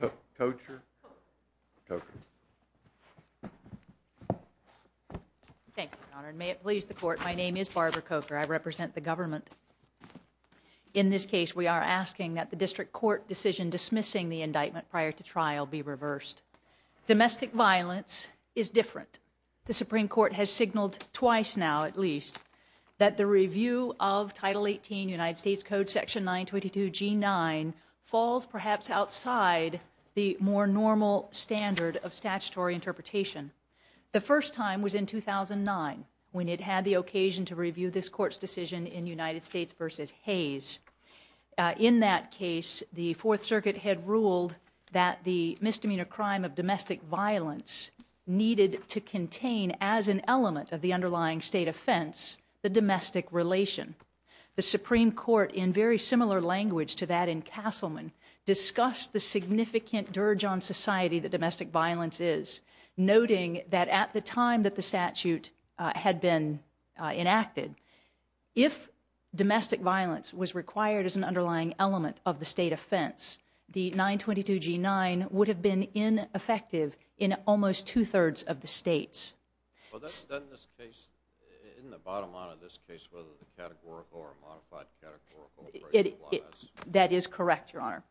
Barbara Kocher In this case, we are asking that the District Court decision dismissing the indictment prior to trial be reversed. Domestic violence is different. The Supreme Court has signaled twice now, at least, that the review of Title 18 United 22 G9 falls perhaps outside the more normal standard of statutory interpretation. The first time was in 2009, when it had the occasion to review this Court's decision in United States v. Hayes. In that case, the Fourth Circuit had ruled that the misdemeanor crime of domestic violence needed to contain as an element of the underlying state offense the domestic relation. The Supreme Court, in very similar language to that in Castleman, discussed the significant dirge on society that domestic violence is, noting that at the time that the statute had been enacted, if domestic violence was required as an underlying element of the state offense, the 922 G9 would have been ineffective in almost two-thirds of the states. That is correct, Your Honor.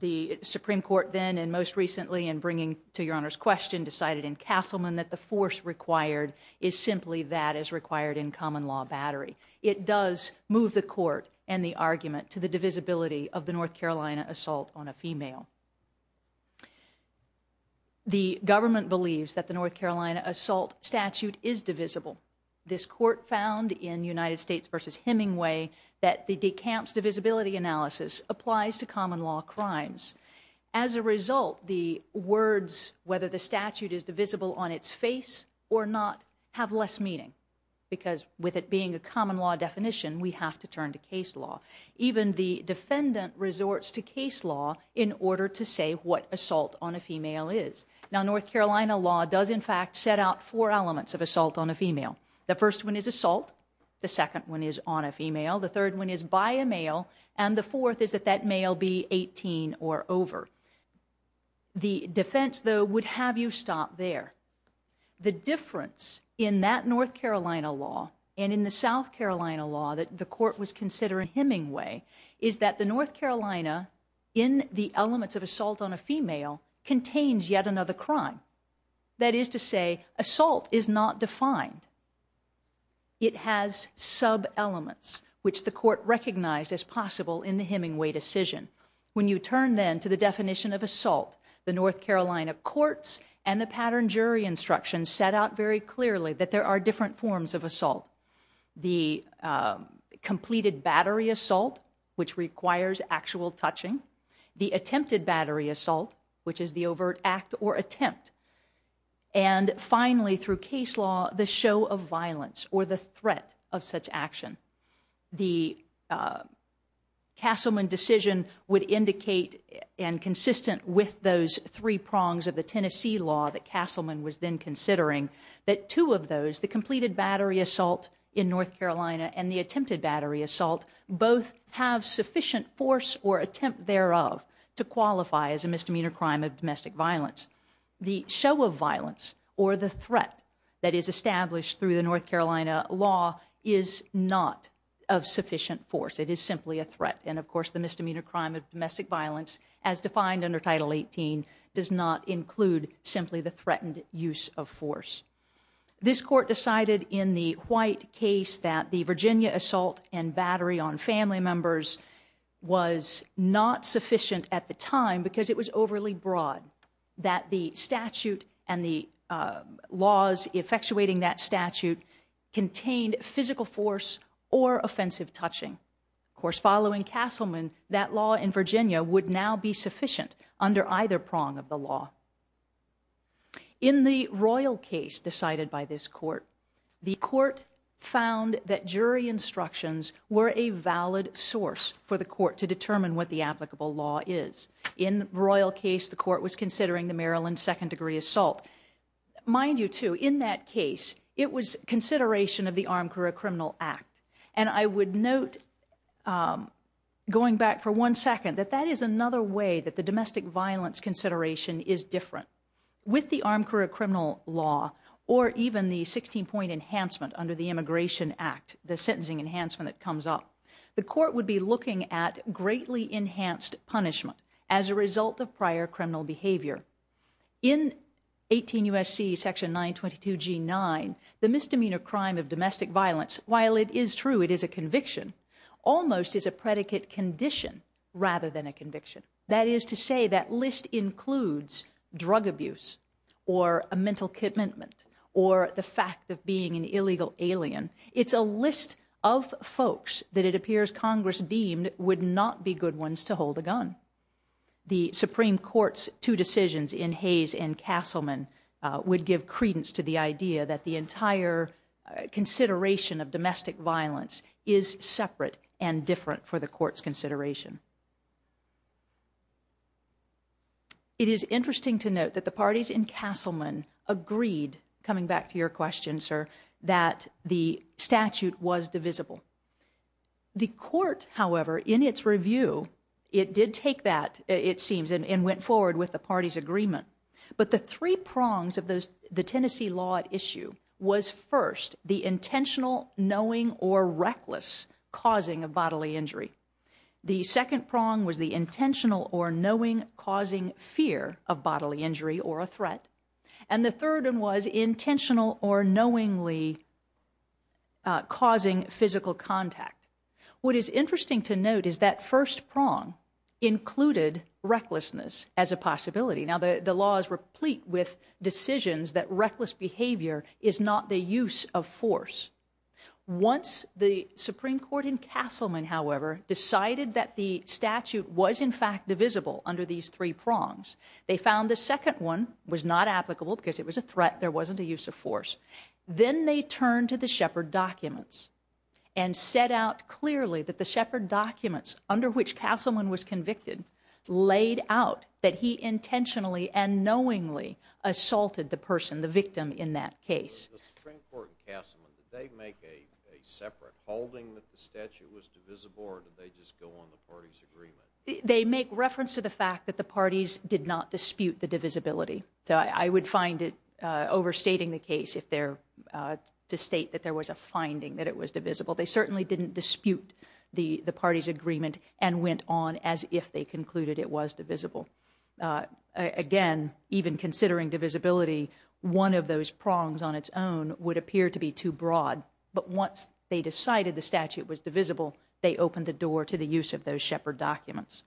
The Supreme Court then, and most recently in bringing to Your Honor's question, decided in Castleman that the force required is simply that as required in common law battery. It does move the Court and the argument to the divisibility of the North Carolina assault on a female. The government believes that the North Carolina assault statute is divisible. This Court found in United States v. Hemingway that the decamps divisibility analysis applies to common law crimes. As a result, the words whether the statute is divisible on its face or not have less meaning, because with it being a common law definition, we have to turn to case law. Even the defendant resorts to case law in order to say what assault on a female is. Now North Carolina law does in fact set out four elements of assault on a female. The first one is assault. The second one is on a female. The third one is by a male. And the fourth is that that male be 18 or over. The defense, though, would have you stop there. The difference in that North Carolina law and in the South Carolina law that the Court was considering Hemingway is that the North Carolina in the elements of assault on a female contains yet another crime. That is to say, assault is not defined. It has sub elements, which the Court recognized as possible in the Hemingway decision. When you turn then to the definition of assault, the North Carolina courts and the pattern jury instructions set out very clearly that there are different forms of assault. The completed battery assault, which requires actual touching. The attempted battery assault, which is the overt act or attempt. And finally, through case law, the show of violence or the threat of such action. The Castleman decision would indicate and consistent with those three prongs of the Castleman was then considering that two of those, the completed battery assault in North Carolina and the attempted battery assault, both have sufficient force or attempt thereof to qualify as a misdemeanor crime of domestic violence. The show of violence or the threat that is established through the North Carolina law is not of sufficient force. It is simply a threat. And, of course, the misdemeanor crime of domestic violence as defined under Title 18 does not include simply the threatened use of force. This court decided in the White case that the Virginia assault and battery on family members was not sufficient at the time because it was overly broad. That the statute and the laws effectuating that statute contained physical force or offensive touching. Of course, following Castleman, that law in Virginia would now be sufficient under either prong of the law. In the Royal case decided by this court, the court found that jury instructions were a valid source for the court to determine what the applicable law is. In the Royal case, the court was considering the Maryland second-degree assault. Mind you, too, in that case, it was consideration of the Armed Career Criminal Act. And I would note, going back for one second, that that is another way that the domestic violence consideration is different. With the Armed Career Criminal Law, or even the 16-point enhancement under the Immigration Act, the sentencing enhancement that comes up, the court would be looking at greatly enhanced punishment as a result of prior criminal behavior. In 18 U.S.C. section 922G9, the misdemeanor crime of domestic violence, while it is true it is a conviction, almost is a predicate condition rather than a conviction. That is to say, that list includes drug abuse, or a mental commitment, or the fact of being an illegal alien. It's a list of folks that it appears Congress deemed would not be good ones to hold a gun. The Supreme Court's two decisions in Hayes and Castleman would give credence to the idea that the entire consideration of domestic violence is separate and different for the criminal violence consideration. It is interesting to note that the parties in Castleman agreed, coming back to your question, sir, that the statute was divisible. The court, however, in its review, it did take that, it seems, and went forward with the parties' agreement. But the three prongs of the Tennessee law at issue was first, the intentional, knowing, or reckless causing of bodily injury. The second prong was the intentional or knowing causing fear of bodily injury or a threat. And the third one was intentional or knowingly causing physical contact. What is interesting to note is that first prong included recklessness as a possibility. Now the law is replete with decisions that reckless behavior is not the use of force. Once the Supreme Court in Castleman, however, decided that the statute was in fact divisible under these three prongs, they found the second one was not applicable because it was a threat, there wasn't a use of force. Then they turned to the Shepard documents and set out clearly that the Shepard documents under which Castleman was convicted laid out that he intentionally and knowingly assaulted the person, the victim, in that case. The Supreme Court in Castleman, did they make a separate holding that the statute was divisible or did they just go on the parties' agreement? They make reference to the fact that the parties did not dispute the divisibility. So I would find it overstating the case if they're to state that there was a finding that it was divisible. They certainly didn't dispute the parties' agreement and went on as if they concluded it was divisible. Again, even considering divisibility, one of those prongs on its own would appear to be too broad. But once they decided the statute was divisible, they opened the door to the use of those Shepard documents.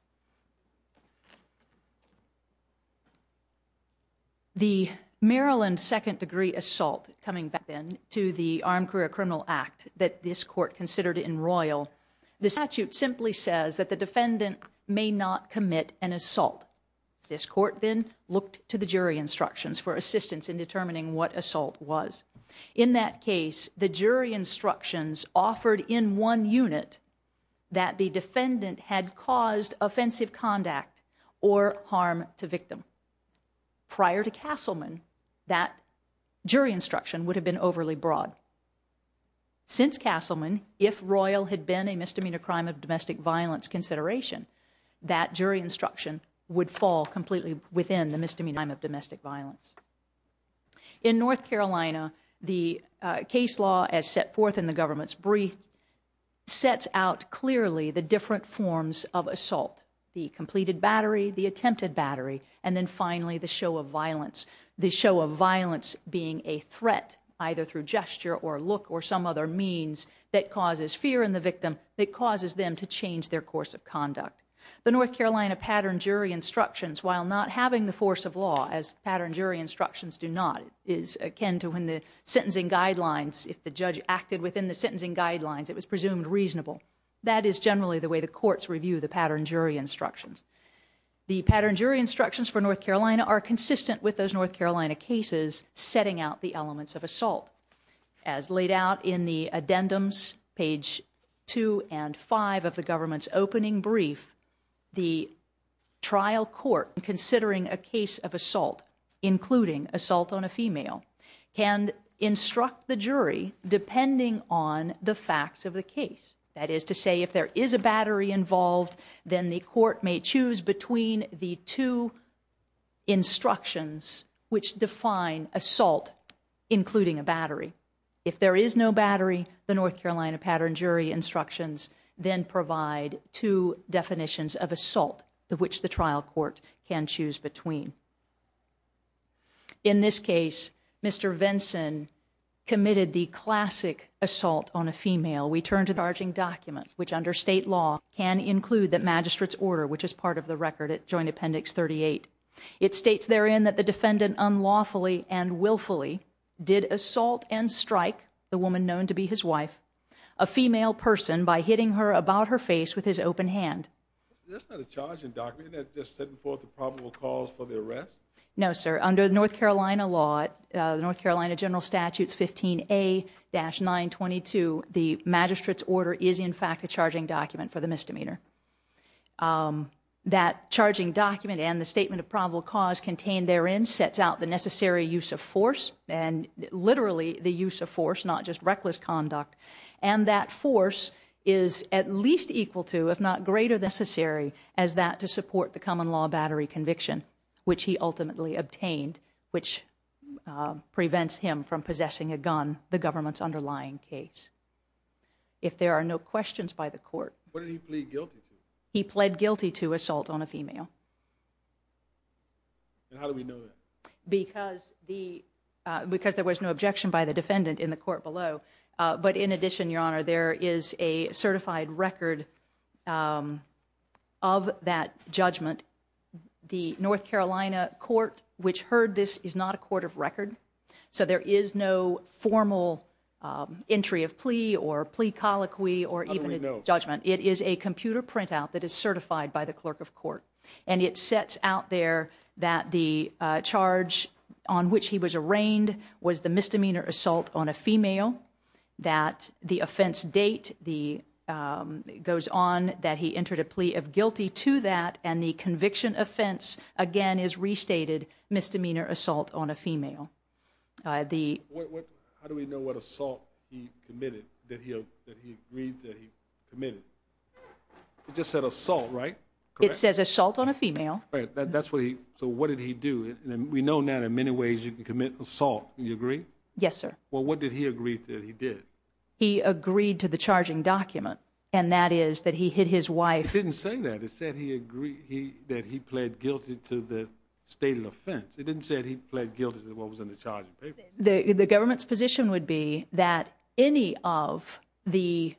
The Maryland second degree assault coming back then to the Armed Career Criminal Act that this court considered in Royal, the statute simply says that the defendant may not commit an assault. This court then looked to the jury instructions for assistance in determining what assault was. In that case, the jury instructions offered in one unit that the defendant had caused offensive conduct or harm to victim. Prior to Castleman, that jury instruction would have been overly broad. Since Castleman, if Royal had been a misdemeanor crime of domestic violence consideration, that jury instruction would fall completely within the misdemeanor crime of domestic violence. In North Carolina, the case law as set forth in the government's brief sets out clearly the different forms of assault, the completed battery, the attempted battery, and then finally the show of violence, the show of violence being a threat either through gesture or look or some other means that causes fear in the victim that causes them to change their course of conduct. The North Carolina pattern jury instructions, while not having the force of law as pattern jury instructions do not, is akin to when the sentencing guidelines, if the judge acted within the sentencing guidelines, it was presumed reasonable. That is generally the way the courts review the pattern jury instructions. The pattern jury instructions for North Carolina are consistent with those North Carolina cases setting out the elements of assault. As laid out in the addendums, page 2 and 5 of the government's opening brief, the trial court considering a case of assault, including assault on a female, can instruct the jury depending on the facts of the case. That is to say, if there is a battery involved, then the court may choose between the two instructions, which define assault, including a battery. If there is no battery, the North Carolina pattern jury instructions then provide two definitions of assault, which the trial court can choose between. In this case, Mr. Vinson committed the classic assault on a female. We turn to the charging document, which under state law can include the magistrate's order, which is part of the record at joint appendix 38. It states therein that the defendant unlawfully and willfully did assault and strike the woman known to be his wife, a female person, by hitting her about her face with his open hand. That's not a charging document. Isn't that just setting forth the probable cause for the arrest? No, sir. Under North Carolina law, the North Carolina general statutes 15A-922, the magistrate's order is in fact a charging document for the misdemeanor. That charging document and the statement of probable cause contained therein sets out the necessary use of force, and literally the use of force, not just reckless conduct. And that force is at least equal to, if not greater necessary, as that to support the common law battery conviction, which he ultimately obtained, which prevents him from possessing a gun, the government's underlying case. If there are no questions by the court. What did he plead guilty to? He pled guilty to assault on a female. And how do we know that? Because there was no objection by the defendant in the court below. But in addition, your honor, there is a certified record of that judgment. The North Carolina court, which heard this, is not a court of record. So there is no formal entry of plea or plea colloquy or even a judgment. It is a computer printout that is certified by the clerk of court. And it sets out there that the charge on which he was arraigned was the misdemeanor assault on a female, that the offense date goes on that he entered a plea of guilty to that, and the conviction offense, again, is restated misdemeanor assault on a female. How do we know what assault he committed, that he agreed that he committed? It just said assault, right? It says assault on a female. That's what he, so what did he do? And we know now that in many ways you can commit assault. Do you agree? Yes, sir. Well, what did he agree that he did? He agreed to the charging document, and that is that he hid his wife. It didn't say that. It said he agreed that he pled guilty to the stated offense. It didn't say that he pled guilty to what was in the charging paper. The government's position would be that any of the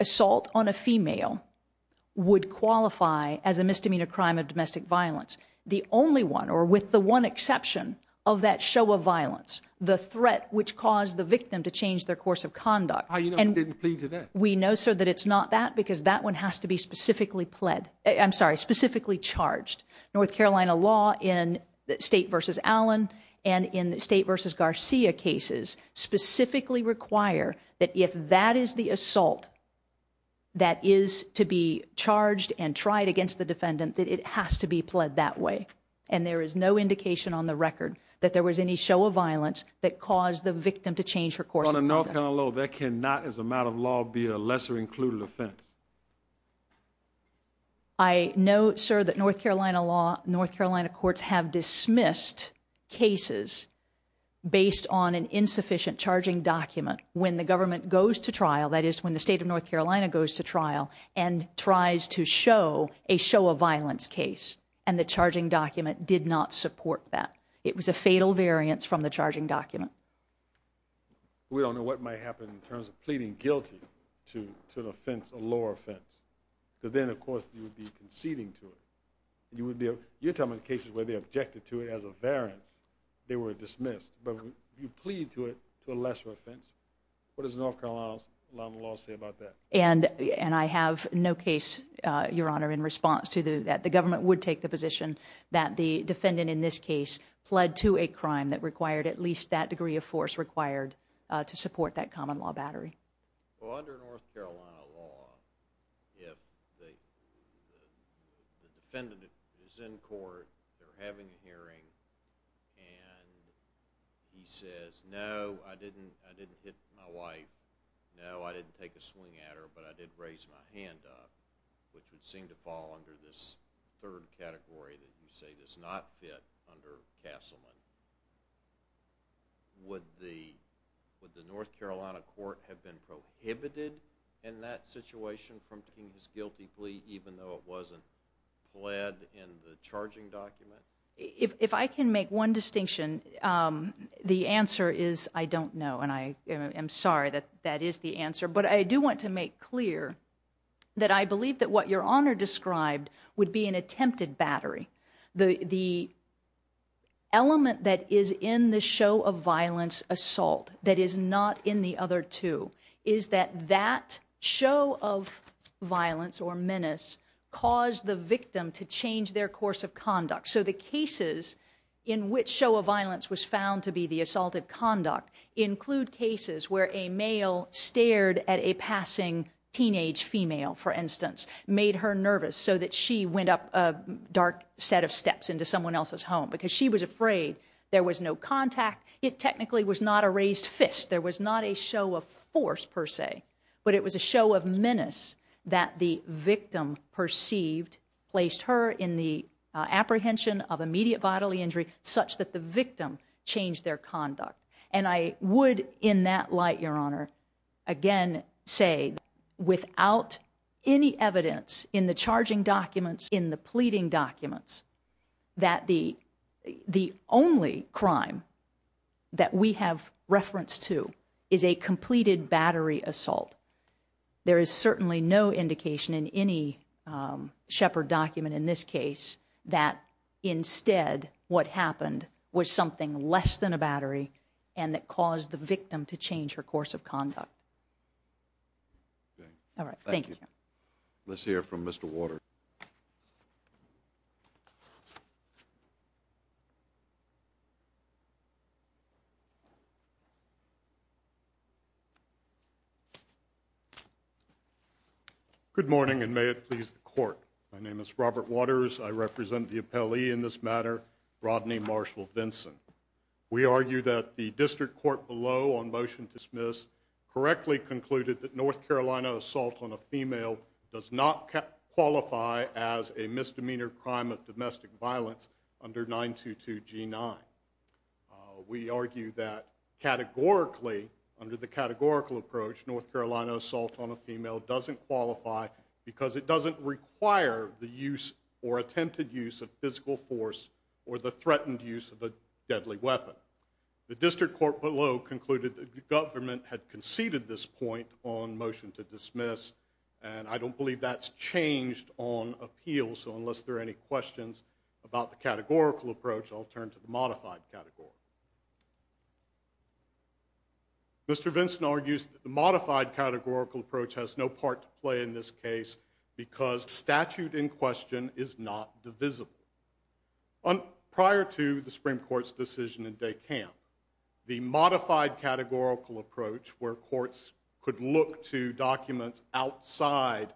assault on a female would qualify as a misdemeanor crime of domestic violence. The only one, or with the one exception of that show of violence, the threat which caused the victim to change their course of conduct. How do you know he didn't plead to that? We know, sir, that it's not that, because that one has to be specifically pled, I'm sorry, specifically charged. North Carolina law in State v. Allen and in State v. Garcia cases specifically require that if that is the assault that is to be charged and tried against the defendant, that it has to be pled that way. And there is no indication on the record that there was any show of violence that caused the victim to change her course of conduct. On a North Carolina law, that cannot, as a matter of law, be a lesser included offense. I know, sir, that North Carolina law, North Carolina courts have dismissed cases based on an insufficient charging document when the government goes to trial, that is, when the state of North Carolina goes to trial and tries to show a show of violence case. And the charging document did not support that. It was a fatal variance from the charging document. We don't know what might happen in terms of pleading guilty to an offense, a lower offense. Because then, of course, you would be conceding to it. You're talking about cases where they objected to it as a variance. They were dismissed. But if you plead to it to a lesser offense, what does North Carolina law say about that? And I have no case, Your Honor, in response to that. The government would take the position that the defendant in this case pled to a crime that required at least that degree of force required to support that common law battery. Well, under North Carolina law, if the defendant is in court, they're having a hearing, and he says, No, I didn't hit my wife. No, I didn't take a swing at her, but I did raise my hand up, which would seem to fall under this third category that you say does not fit under Castleman. Would the North Carolina court have been prohibited in that situation from taking his guilty plea, even though it wasn't pled in the charging document? If I can make one distinction, the answer is I don't know, and I am sorry that that is the answer. But I do want to make clear that I believe that what Your Honor described would be an attempted battery. The element that is in the show of violence assault that is not in the other two is that that show of violence or menace caused the victim to change their course of conduct. So the cases in which show of violence was found to be the assaulted conduct include cases where a male stared at a passing teenage female, for instance, made her nervous so that she went up a dark set of steps into someone else's home because she was afraid there was no contact. It technically was not a raised fist. There was not a show of force per se, but it was a show of menace that the victim perceived placed her in the apprehension of immediate bodily injury such that the victim changed their conduct. And I would in that light, Your Honor, again, say without any evidence in the charging documents, in the pleading documents that the the only crime. That we have reference to is a completed battery assault. There is certainly no indication in any Shepard document in this case that instead, what happened was something less than a battery and that caused the victim to change her course of conduct. All right. Thank you. Let's hear from Mr. Waters. Good morning and may it please the court. My name is Robert Waters. I represent the appellee in this matter, Rodney Marshall Vinson. We argue that the district court below on motion to dismiss correctly concluded that North Carolina assault on a female does not qualify as a misdemeanor crime of domestic violence under 922 G9. We argue that categorically, under the categorical approach, North Carolina assault on a female doesn't qualify because it doesn't require the use or attempted use of physical force or the threatened use of a deadly weapon. The district court below concluded that the government had conceded this point on motion to dismiss. And I don't believe that's changed on appeal. So unless there are any questions about the categorical approach, I'll turn to the modified category. Mr. Vinson argues that the modified categorical approach has no part to play in this case because statute in question is not divisible. Prior to the Supreme Court's decision in Decamp, the modified categorical approach where courts could look to documents outside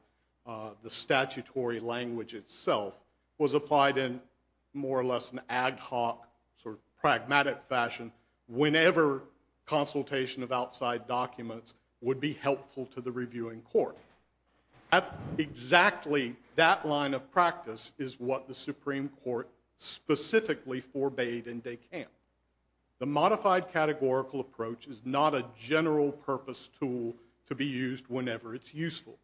the statutory language itself was applied in more or less an ad hoc sort of pragmatic fashion whenever consultation of outside documents would be helpful to the reviewing court. Exactly that line of practice is what the Supreme Court specifically forbade in Decamp. The modified categorical approach is not a general purpose tool to be used whenever it's useful.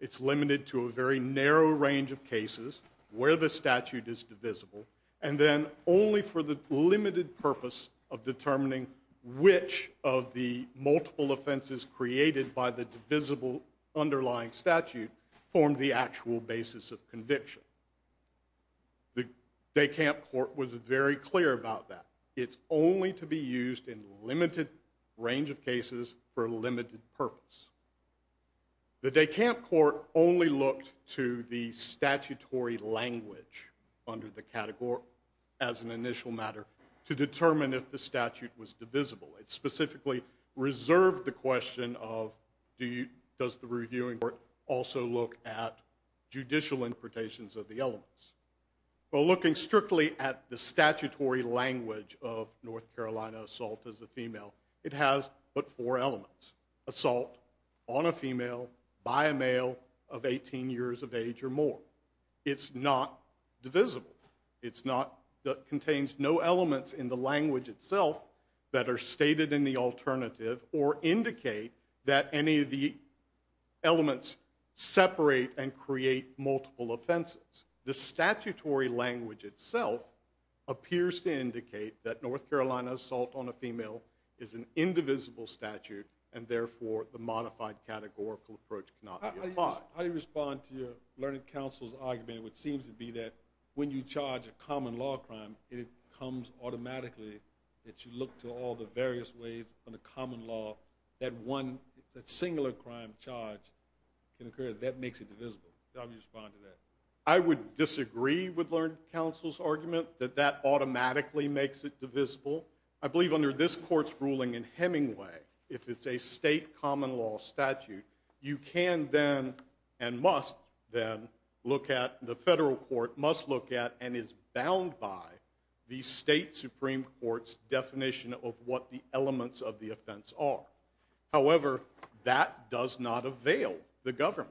It's limited to a very narrow range of cases where the statute is divisible and then only for the limited purpose of determining which of the multiple offenses created by the divisible underlying statute form the actual basis of conviction. The Decamp court was very clear about that. It's only to be used in limited range of cases for a limited purpose. The Decamp court only looked to the statutory language under the category as an initial matter to determine if the statute was divisible. It specifically reserved the question of does the reviewing court also look at judicial interpretations of the elements? Well, looking strictly at the statutory language of North Carolina assault as a female, it has but four elements. Assault on a female by a male of 18 years of age or more. It's not divisible. It contains no elements in the language itself that are stated in the alternative or indicate that any of the elements separate and create multiple offenses. The statutory language itself appears to indicate that North Carolina assault on a female is an indivisible statute and therefore the modified categorical approach cannot be applied. How do you respond to your learned counsel's argument which seems to be that when you charge a common law crime, it comes automatically that you look to all the various ways on a common law that one singular crime charge can occur. That makes it divisible. How do you respond to that? I would disagree with learned counsel's argument that that automatically makes it divisible. I believe under this court's ruling in Hemingway, if it's a state common law statute, you can then and must then look at, the federal court must look at and is bound by the state supreme court's definition of what the elements of the offense are. However, that does not avail the government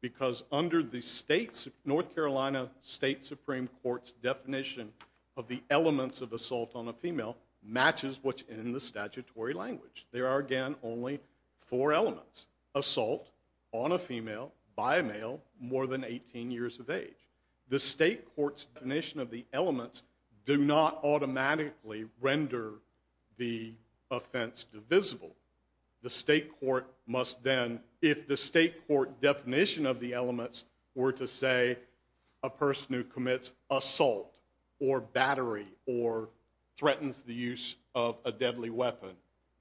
because under the North Carolina state supreme court's definition of the elements of assault on a female matches what's in the statutory language. There are again only four elements. Assault on a female by a male more than 18 years of age. The state court's definition of the elements do not automatically render the offense divisible. The state court must then, if the state court definition of the elements were to say a person who commits assault or battery or threatens the use of a deadly weapon,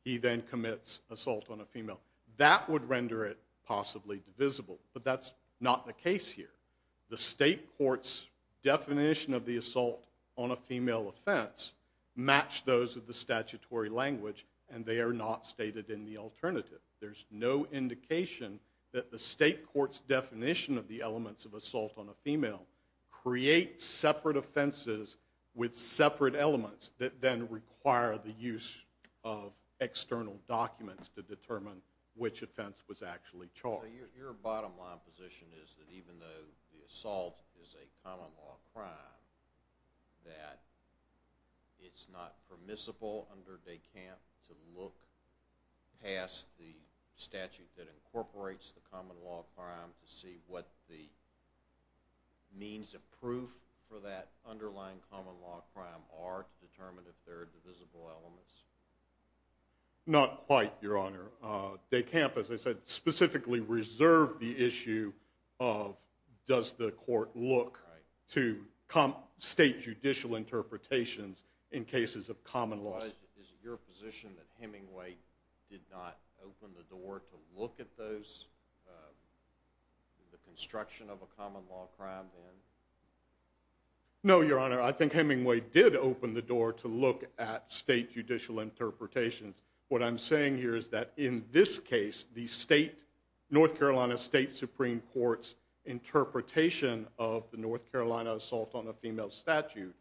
he then commits assault on a female. That would render it possibly divisible. But that's not the case here. The state court's definition of the assault on a female offense match those of the statutory language and they are not stated in the alternative. There's no indication that the state court's definition of the elements of assault on a female creates separate offenses with separate elements that then require the use of external documents to determine which offense was actually charged. So your bottom line position is that even though the assault is a common law crime, that it's not permissible under DeCamp to look past the statute that incorporates the common law crime to see what the means of proof for that underlying common law crime are to determine if they're divisible elements? Not quite, your honor. DeCamp, as I said, specifically reserved the issue of does the court look to state judicial interpretations in cases of common law? Is it your position that Hemingway did not open the door to look at the construction of a common law crime then? No, your honor. I think Hemingway did open the door to look at state judicial interpretations. What I'm saying here is that in this case, the North Carolina State Supreme Court's interpretation of the North Carolina assault on a female statute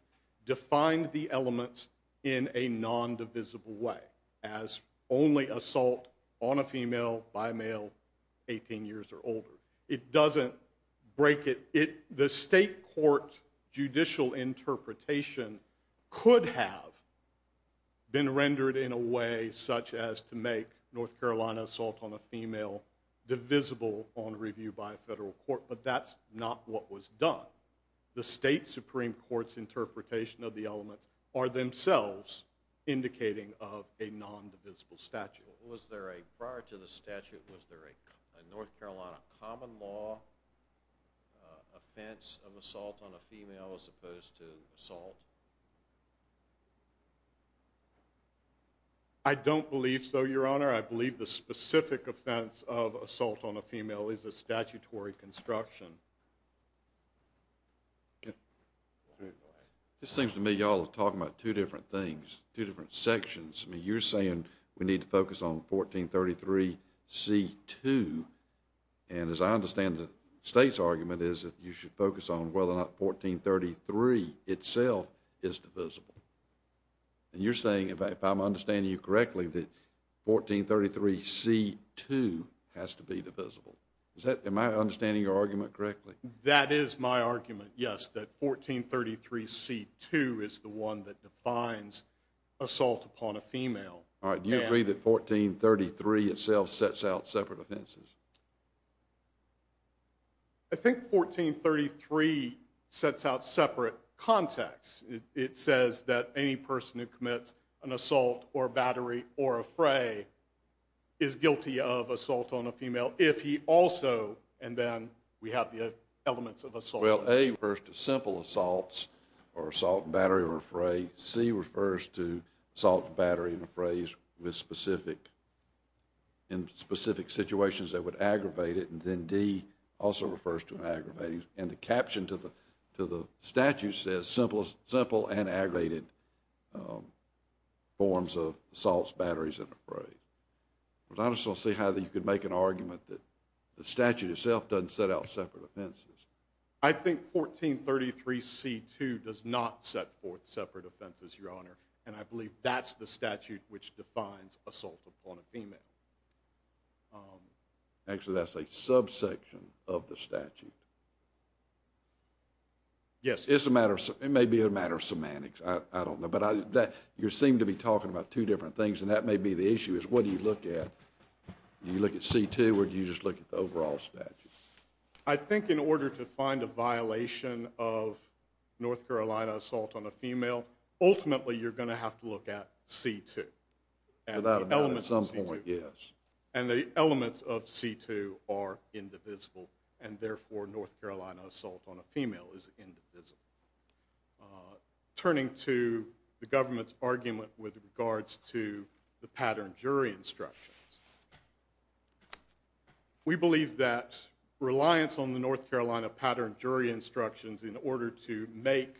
defined the elements in a non-divisible way as only assault on a female by a male 18 years or older. It doesn't break it. The state court judicial interpretation could have been rendered in a way such as to make North Carolina assault on a female divisible on review by a federal court, but that's not what was done. The state Supreme Court's interpretation of the elements are themselves indicating of a non-divisible statute. Prior to the statute, was there a North Carolina common law offense of assault on a female as opposed to assault? I don't believe so, your honor. I believe the specific offense of assault on a female is a statutory construction. This seems to me y'all are talking about two different things, two different sections. You're saying we need to focus on 1433C2, and as I understand the state's argument is that you should focus on whether or not 1433 itself is divisible. And you're saying, if I'm understanding you correctly, that 1433C2 has to be divisible. Am I understanding your argument correctly? That is my argument, yes, that 1433C2 is the one that defines assault upon a female. Do you agree that 1433 itself sets out separate offenses? I think 1433 sets out separate contexts. It says that any person who commits an assault or battery or a fray is guilty of assault on a female if he also, and then we have the elements of assault. Well, A refers to simple assaults or assault and battery or a fray, C refers to assault and battery and a fray with specific, in specific situations that would aggravate it, and then D also refers to aggravating. And the caption to the statute says simple and aggravated forms of assaults, batteries, and a fray. I just don't see how you could make an argument that the statute itself doesn't set out separate offenses. I think 1433C2 does not set forth separate offenses, Your Honor, and I believe that's the statute which defines assault upon a female. Actually, that's a subsection of the statute. Yes. It may be a matter of semantics. I don't know. But you seem to be talking about two different things, and that may be the issue, is what do you look at? Do you look at C2, or do you just look at the overall statute? I think in order to find a violation of North Carolina assault on a female, ultimately you're going to have to look at C2. Without a doubt, at some point, yes. And the elements of C2 are indivisible, and therefore North Carolina assault on a female is indivisible. Turning to the government's argument with regards to the pattern jury instructions, we believe that reliance on the North Carolina pattern jury instructions in order to make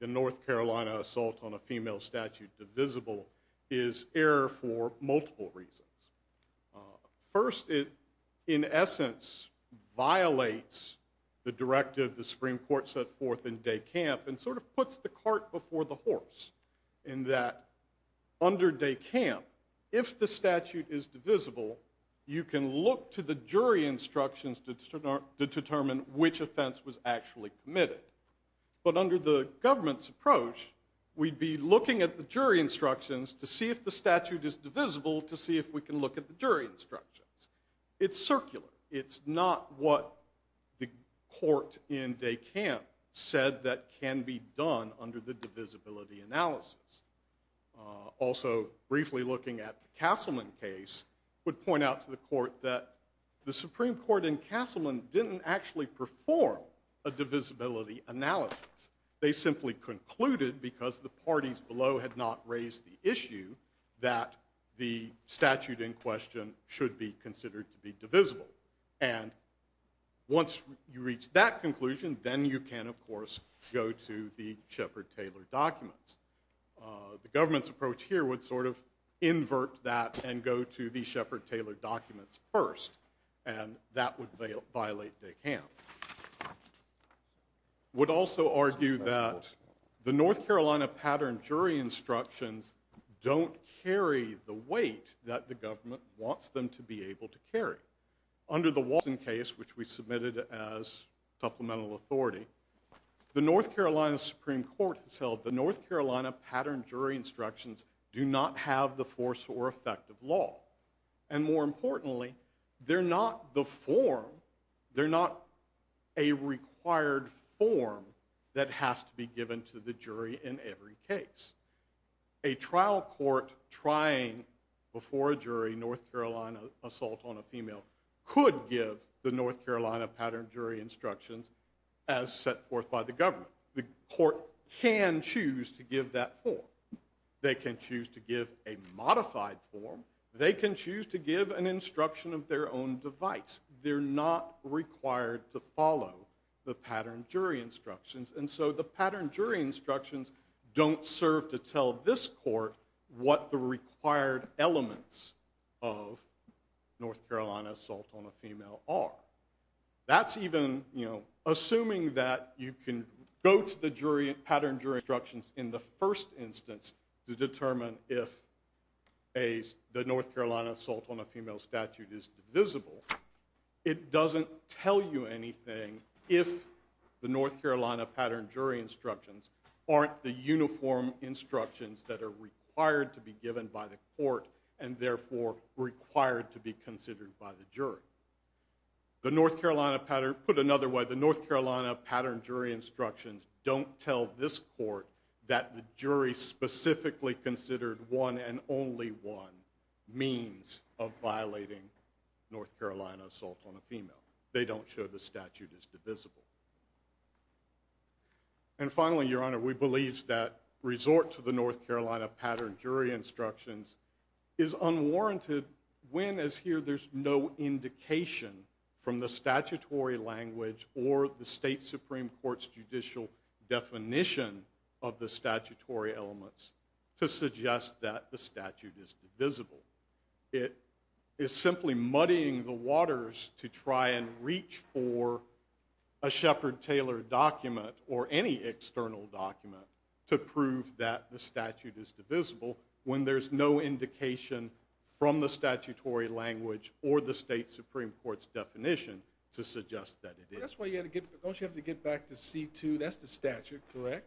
the North Carolina assault on a female statute divisible is error for multiple reasons. First, it, in essence, violates the directive the Supreme Court set forth in De Camp, and sort of puts the cart before the horse in that under De Camp, if the statute is divisible, you can look to the jury instructions to determine which offense was actually committed. But under the government's approach, we'd be looking at the jury instructions to see if the statute is divisible to see if we can look at the jury instructions. It's circular. It's not what the court in De Camp said that can be done under the divisibility analysis. Also, briefly looking at the Castleman case, would point out to the court that the Supreme Court in Castleman didn't actually perform a divisibility analysis. They simply concluded, because the parties below had not raised the issue, that the statute in question should be considered to be divisible. And once you reach that conclusion, then you can, of course, go to the Shepard-Taylor documents. The government's approach here would sort of invert that and go to the Shepard-Taylor documents first, and that would violate De Camp. I would also argue that the North Carolina pattern jury instructions don't carry the weight that the government wants them to be able to carry. Under the Watson case, which we submitted as supplemental authority, the North Carolina Supreme Court has held the North Carolina pattern jury instructions do not have the force or effect of law. And more importantly, they're not the form, they're not a required form that has to be given to the jury in every case. A trial court trying before a jury North Carolina assault on a female could give the North Carolina pattern jury instructions as set forth by the government. The court can choose to give that form. They can choose to give a modified form. They can choose to give an instruction of their own device. They're not required to follow the pattern jury instructions. And so the pattern jury instructions don't serve to tell this court what the required elements of North Carolina assault on a female are. Assuming that you can go to the pattern jury instructions in the first instance to determine if the North Carolina assault on a female statute is divisible, it doesn't tell you anything if the North Carolina pattern jury instructions aren't the uniform instructions that are required to be given by the court and therefore required to be considered by the jury. Put another way, the North Carolina pattern jury instructions don't tell this court that the jury specifically considered one and only one means of violating North Carolina assault on a female. They don't show the statute is divisible. And finally, Your Honor, we believe that resort to the North Carolina pattern jury instructions is unwarranted when, as here, there's no indication from the statutory language or the state Supreme Court's judicial definition of the statutory elements to suggest that the statute is divisible. It is simply muddying the waters to try and reach for a Shepard-Taylor document or any external document to prove that the statute is divisible when there's no indication from the statutory language or the state Supreme Court's definition to suggest that it is. That's why you have to get back to C2. That's the statute, correct?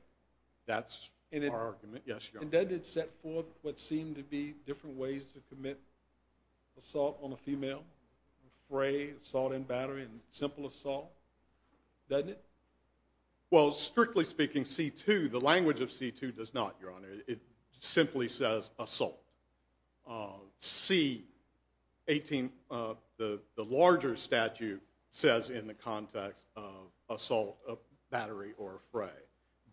That's our argument, yes, Your Honor. And doesn't it set forth what seem to be different ways to commit assault on a female, fray, assault in battery, and simple assault? Doesn't it? Well, strictly speaking, C2, the language of C2 does not, Your Honor. It simply says assault. C18, the larger statute, says in the context of assault, battery, or fray.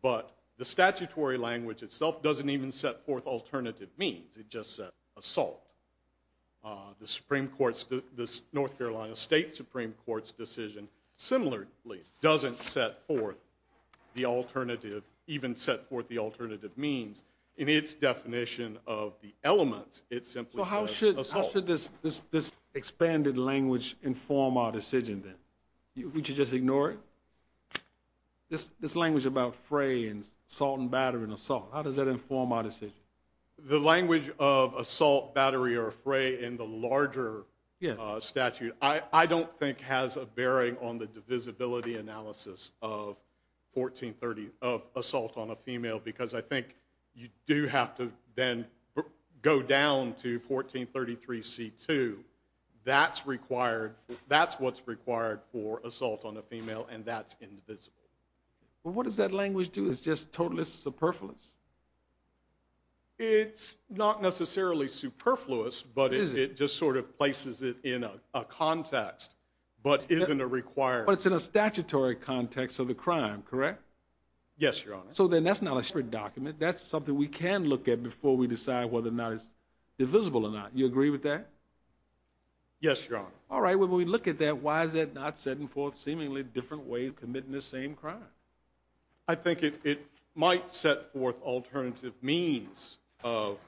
But the statutory language itself doesn't even set forth alternative means. It just says assault. The Supreme Court's, the North Carolina State Supreme Court's decision similarly doesn't set forth the alternative, even set forth the alternative means. In its definition of the elements, it simply says assault. So how should this expanded language inform our decision, then? We should just ignore it? This language about fray and assault in battery and assault, how does that inform our decision? The language of assault, battery, or fray in the larger statute, I don't think has a bearing on the divisibility analysis of assault on a female because I think you do have to then go down to 1433C2. That's what's required for assault on a female, and that's indivisible. Well, what does that language do? It's just totalist superfluous. It's not necessarily superfluous, but it just sort of places it in a context, but isn't a required. But it's in a statutory context of the crime, correct? Yes, Your Honor. So then that's not a separate document. That's something we can look at before we decide whether or not it's divisible or not. Do you agree with that? Yes, Your Honor. All right, when we look at that, why is that not setting forth seemingly different ways of committing the same crime? I think it might set forth alternative means of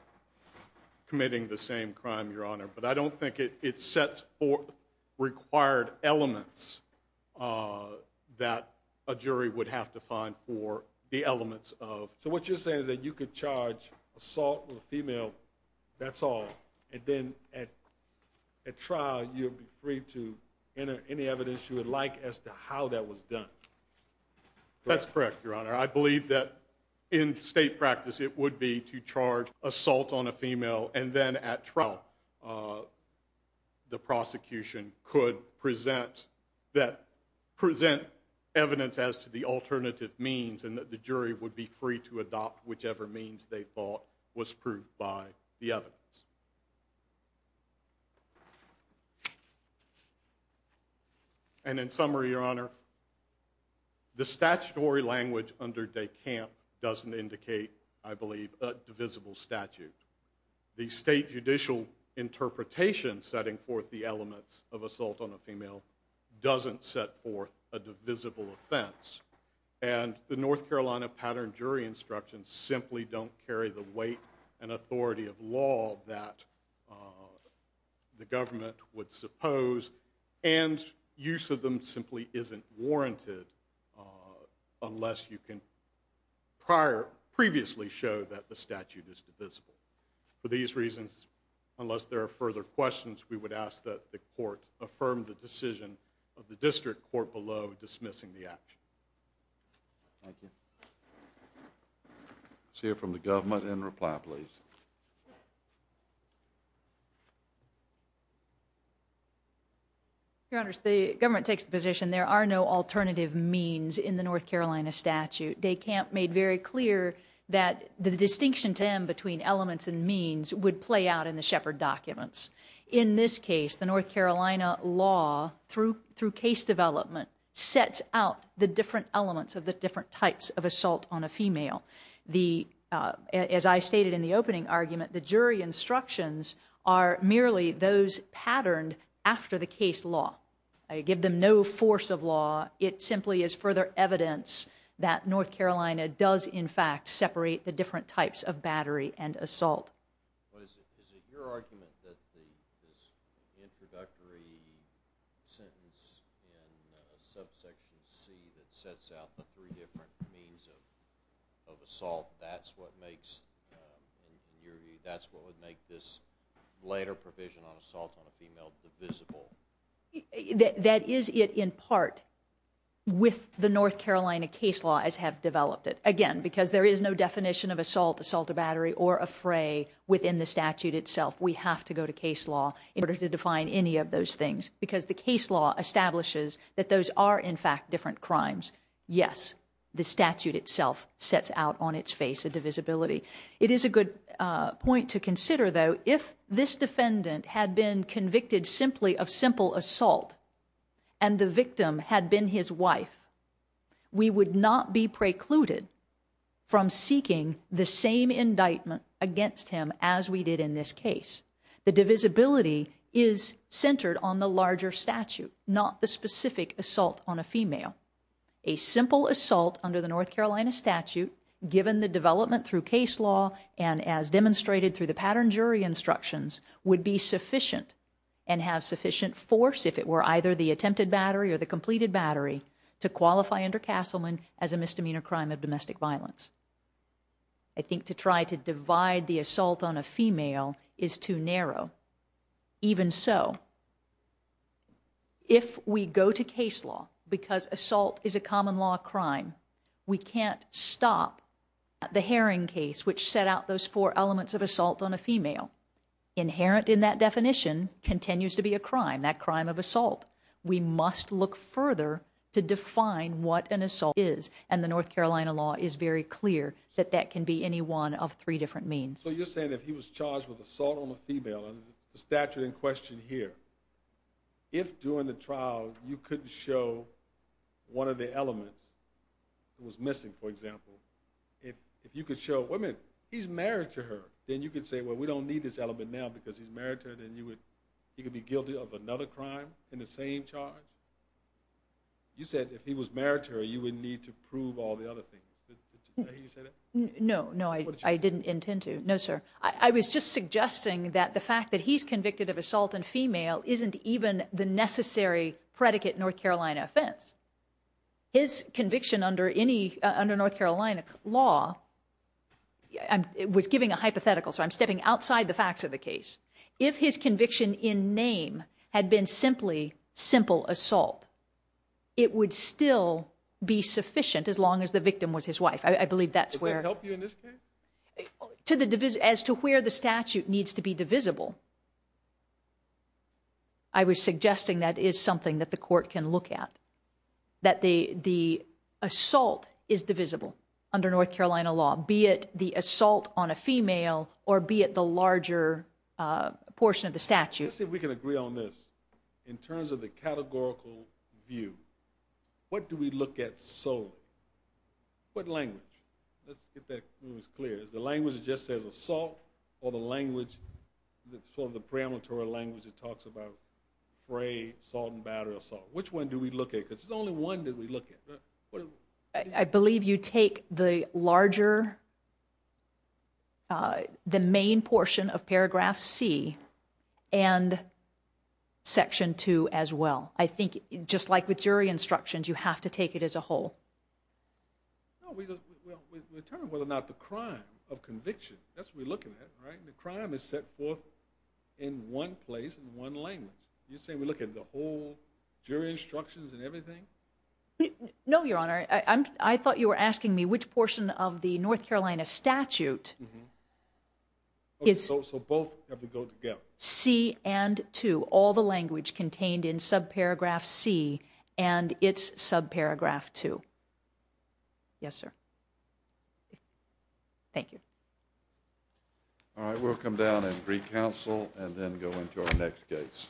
committing the same crime, Your Honor, but I don't think it sets forth required elements that a jury would have to find for the elements of. So what you're saying is that you could charge assault on a female, that's all, and then at trial you would be free to enter any evidence you would like as to how that was done. That's correct, Your Honor. I believe that in state practice it would be to charge assault on a female, and then at trial the prosecution could present evidence as to the alternative means and that the jury would be free to adopt whichever means they thought was proved by the evidence. And in summary, Your Honor, the statutory language under DeCamp doesn't indicate, I believe, a divisible statute. The state judicial interpretation setting forth the elements of assault on a female doesn't set forth a divisible offense, and the North Carolina pattern jury instructions simply don't carry the weight and authority of law that the government would suppose, and use of them simply isn't warranted unless you can previously show that the statute is divisible. For these reasons, unless there are further questions, we would ask that the court affirm the decision of the district court below dismissing the action. Thank you. Let's hear from the government and reply, please. Your Honors, the government takes the position there are no alternative means in the North Carolina statute. DeCamp made very clear that the distinction to them between elements and means would play out in the Shepard documents. In this case, the North Carolina law, through case development, sets out the different elements of the different types of assault on a female. As I stated in the opening argument, the jury instructions are merely those patterned after the case law. I give them no force of law. It simply is further evidence that North Carolina does, in fact, separate the different types of battery and assault. Is it your argument that this introductory sentence in subsection C that sets out the three different means of assault, that's what would make this later provision on assault on a female divisible? That is it, in part, with the North Carolina case law as have developed it. Again, because there is no definition of assault, assault of battery, or a fray within the statute itself, we have to go to case law in order to define any of those things because the case law establishes that those are, in fact, different crimes. Yes, the statute itself sets out on its face a divisibility. It is a good point to consider, though, if this defendant had been convicted simply of simple assault and the victim had been his wife, we would not be precluded from seeking the same indictment against him as we did in this case. The divisibility is centered on the larger statute, not the specific assault on a female. A simple assault under the North Carolina statute, given the development through case law and as demonstrated through the patterned jury instructions, would be sufficient and have sufficient force, if it were either the attempted battery or the completed battery, to qualify under Castleman as a misdemeanor crime of domestic violence. I think to try to divide the assault on a female is too narrow. Even so, if we go to case law because assault is a common law crime, we can't stop the Herring case, which set out those four elements of assault on a female. Inherent in that definition continues to be a crime, that crime of assault. We must look further to define what an assault is, and the North Carolina law is very clear that that can be any one of three different means. So you're saying that if he was charged with assault on a female, and the statute in question here, if during the trial you couldn't show one of the elements that was missing, for example, if you could show, wait a minute, he's married to her, then you could say, well, we don't need this element now because he's married to her, then he could be guilty of another crime in the same charge? You said if he was married to her, you would need to prove all the other things. Did you say that? No, no, I didn't intend to. No, sir. I was just suggesting that the fact that he's convicted of assault on a female isn't even the necessary predicate North Carolina offense. His conviction under North Carolina law, I was giving a hypothetical, so I'm stepping outside the facts of the case. If his conviction in name had been simply simple assault, it would still be sufficient as long as the victim was his wife. Does that help you in this case? As to where the statute needs to be divisible, I was suggesting that is something that the court can look at, that the assault is divisible under North Carolina law, be it the assault on a female or be it the larger portion of the statute. Let's see if we can agree on this. In terms of the categorical view, what do we look at solely? What language? Let's get that clear. Is the language that just says assault or the language, the sort of the preemptory language that talks about fray, salt and batter, assault? Which one do we look at? Because there's only one that we look at. I believe you take the larger, the main portion of paragraph C and section two as well. I think just like with jury instructions, you have to take it as a whole. We determine whether or not the crime of conviction, that's what we're looking at. The crime is set forth in one place in one language. You're saying we look at the whole jury instructions and everything? No, Your Honor. I thought you were asking me which portion of the North Carolina statute. So both have to go together? C and two, all the language contained in subparagraph C and its subparagraph two. Yes, sir. Thank you. All right, we'll come down and re-counsel and then go into our next case.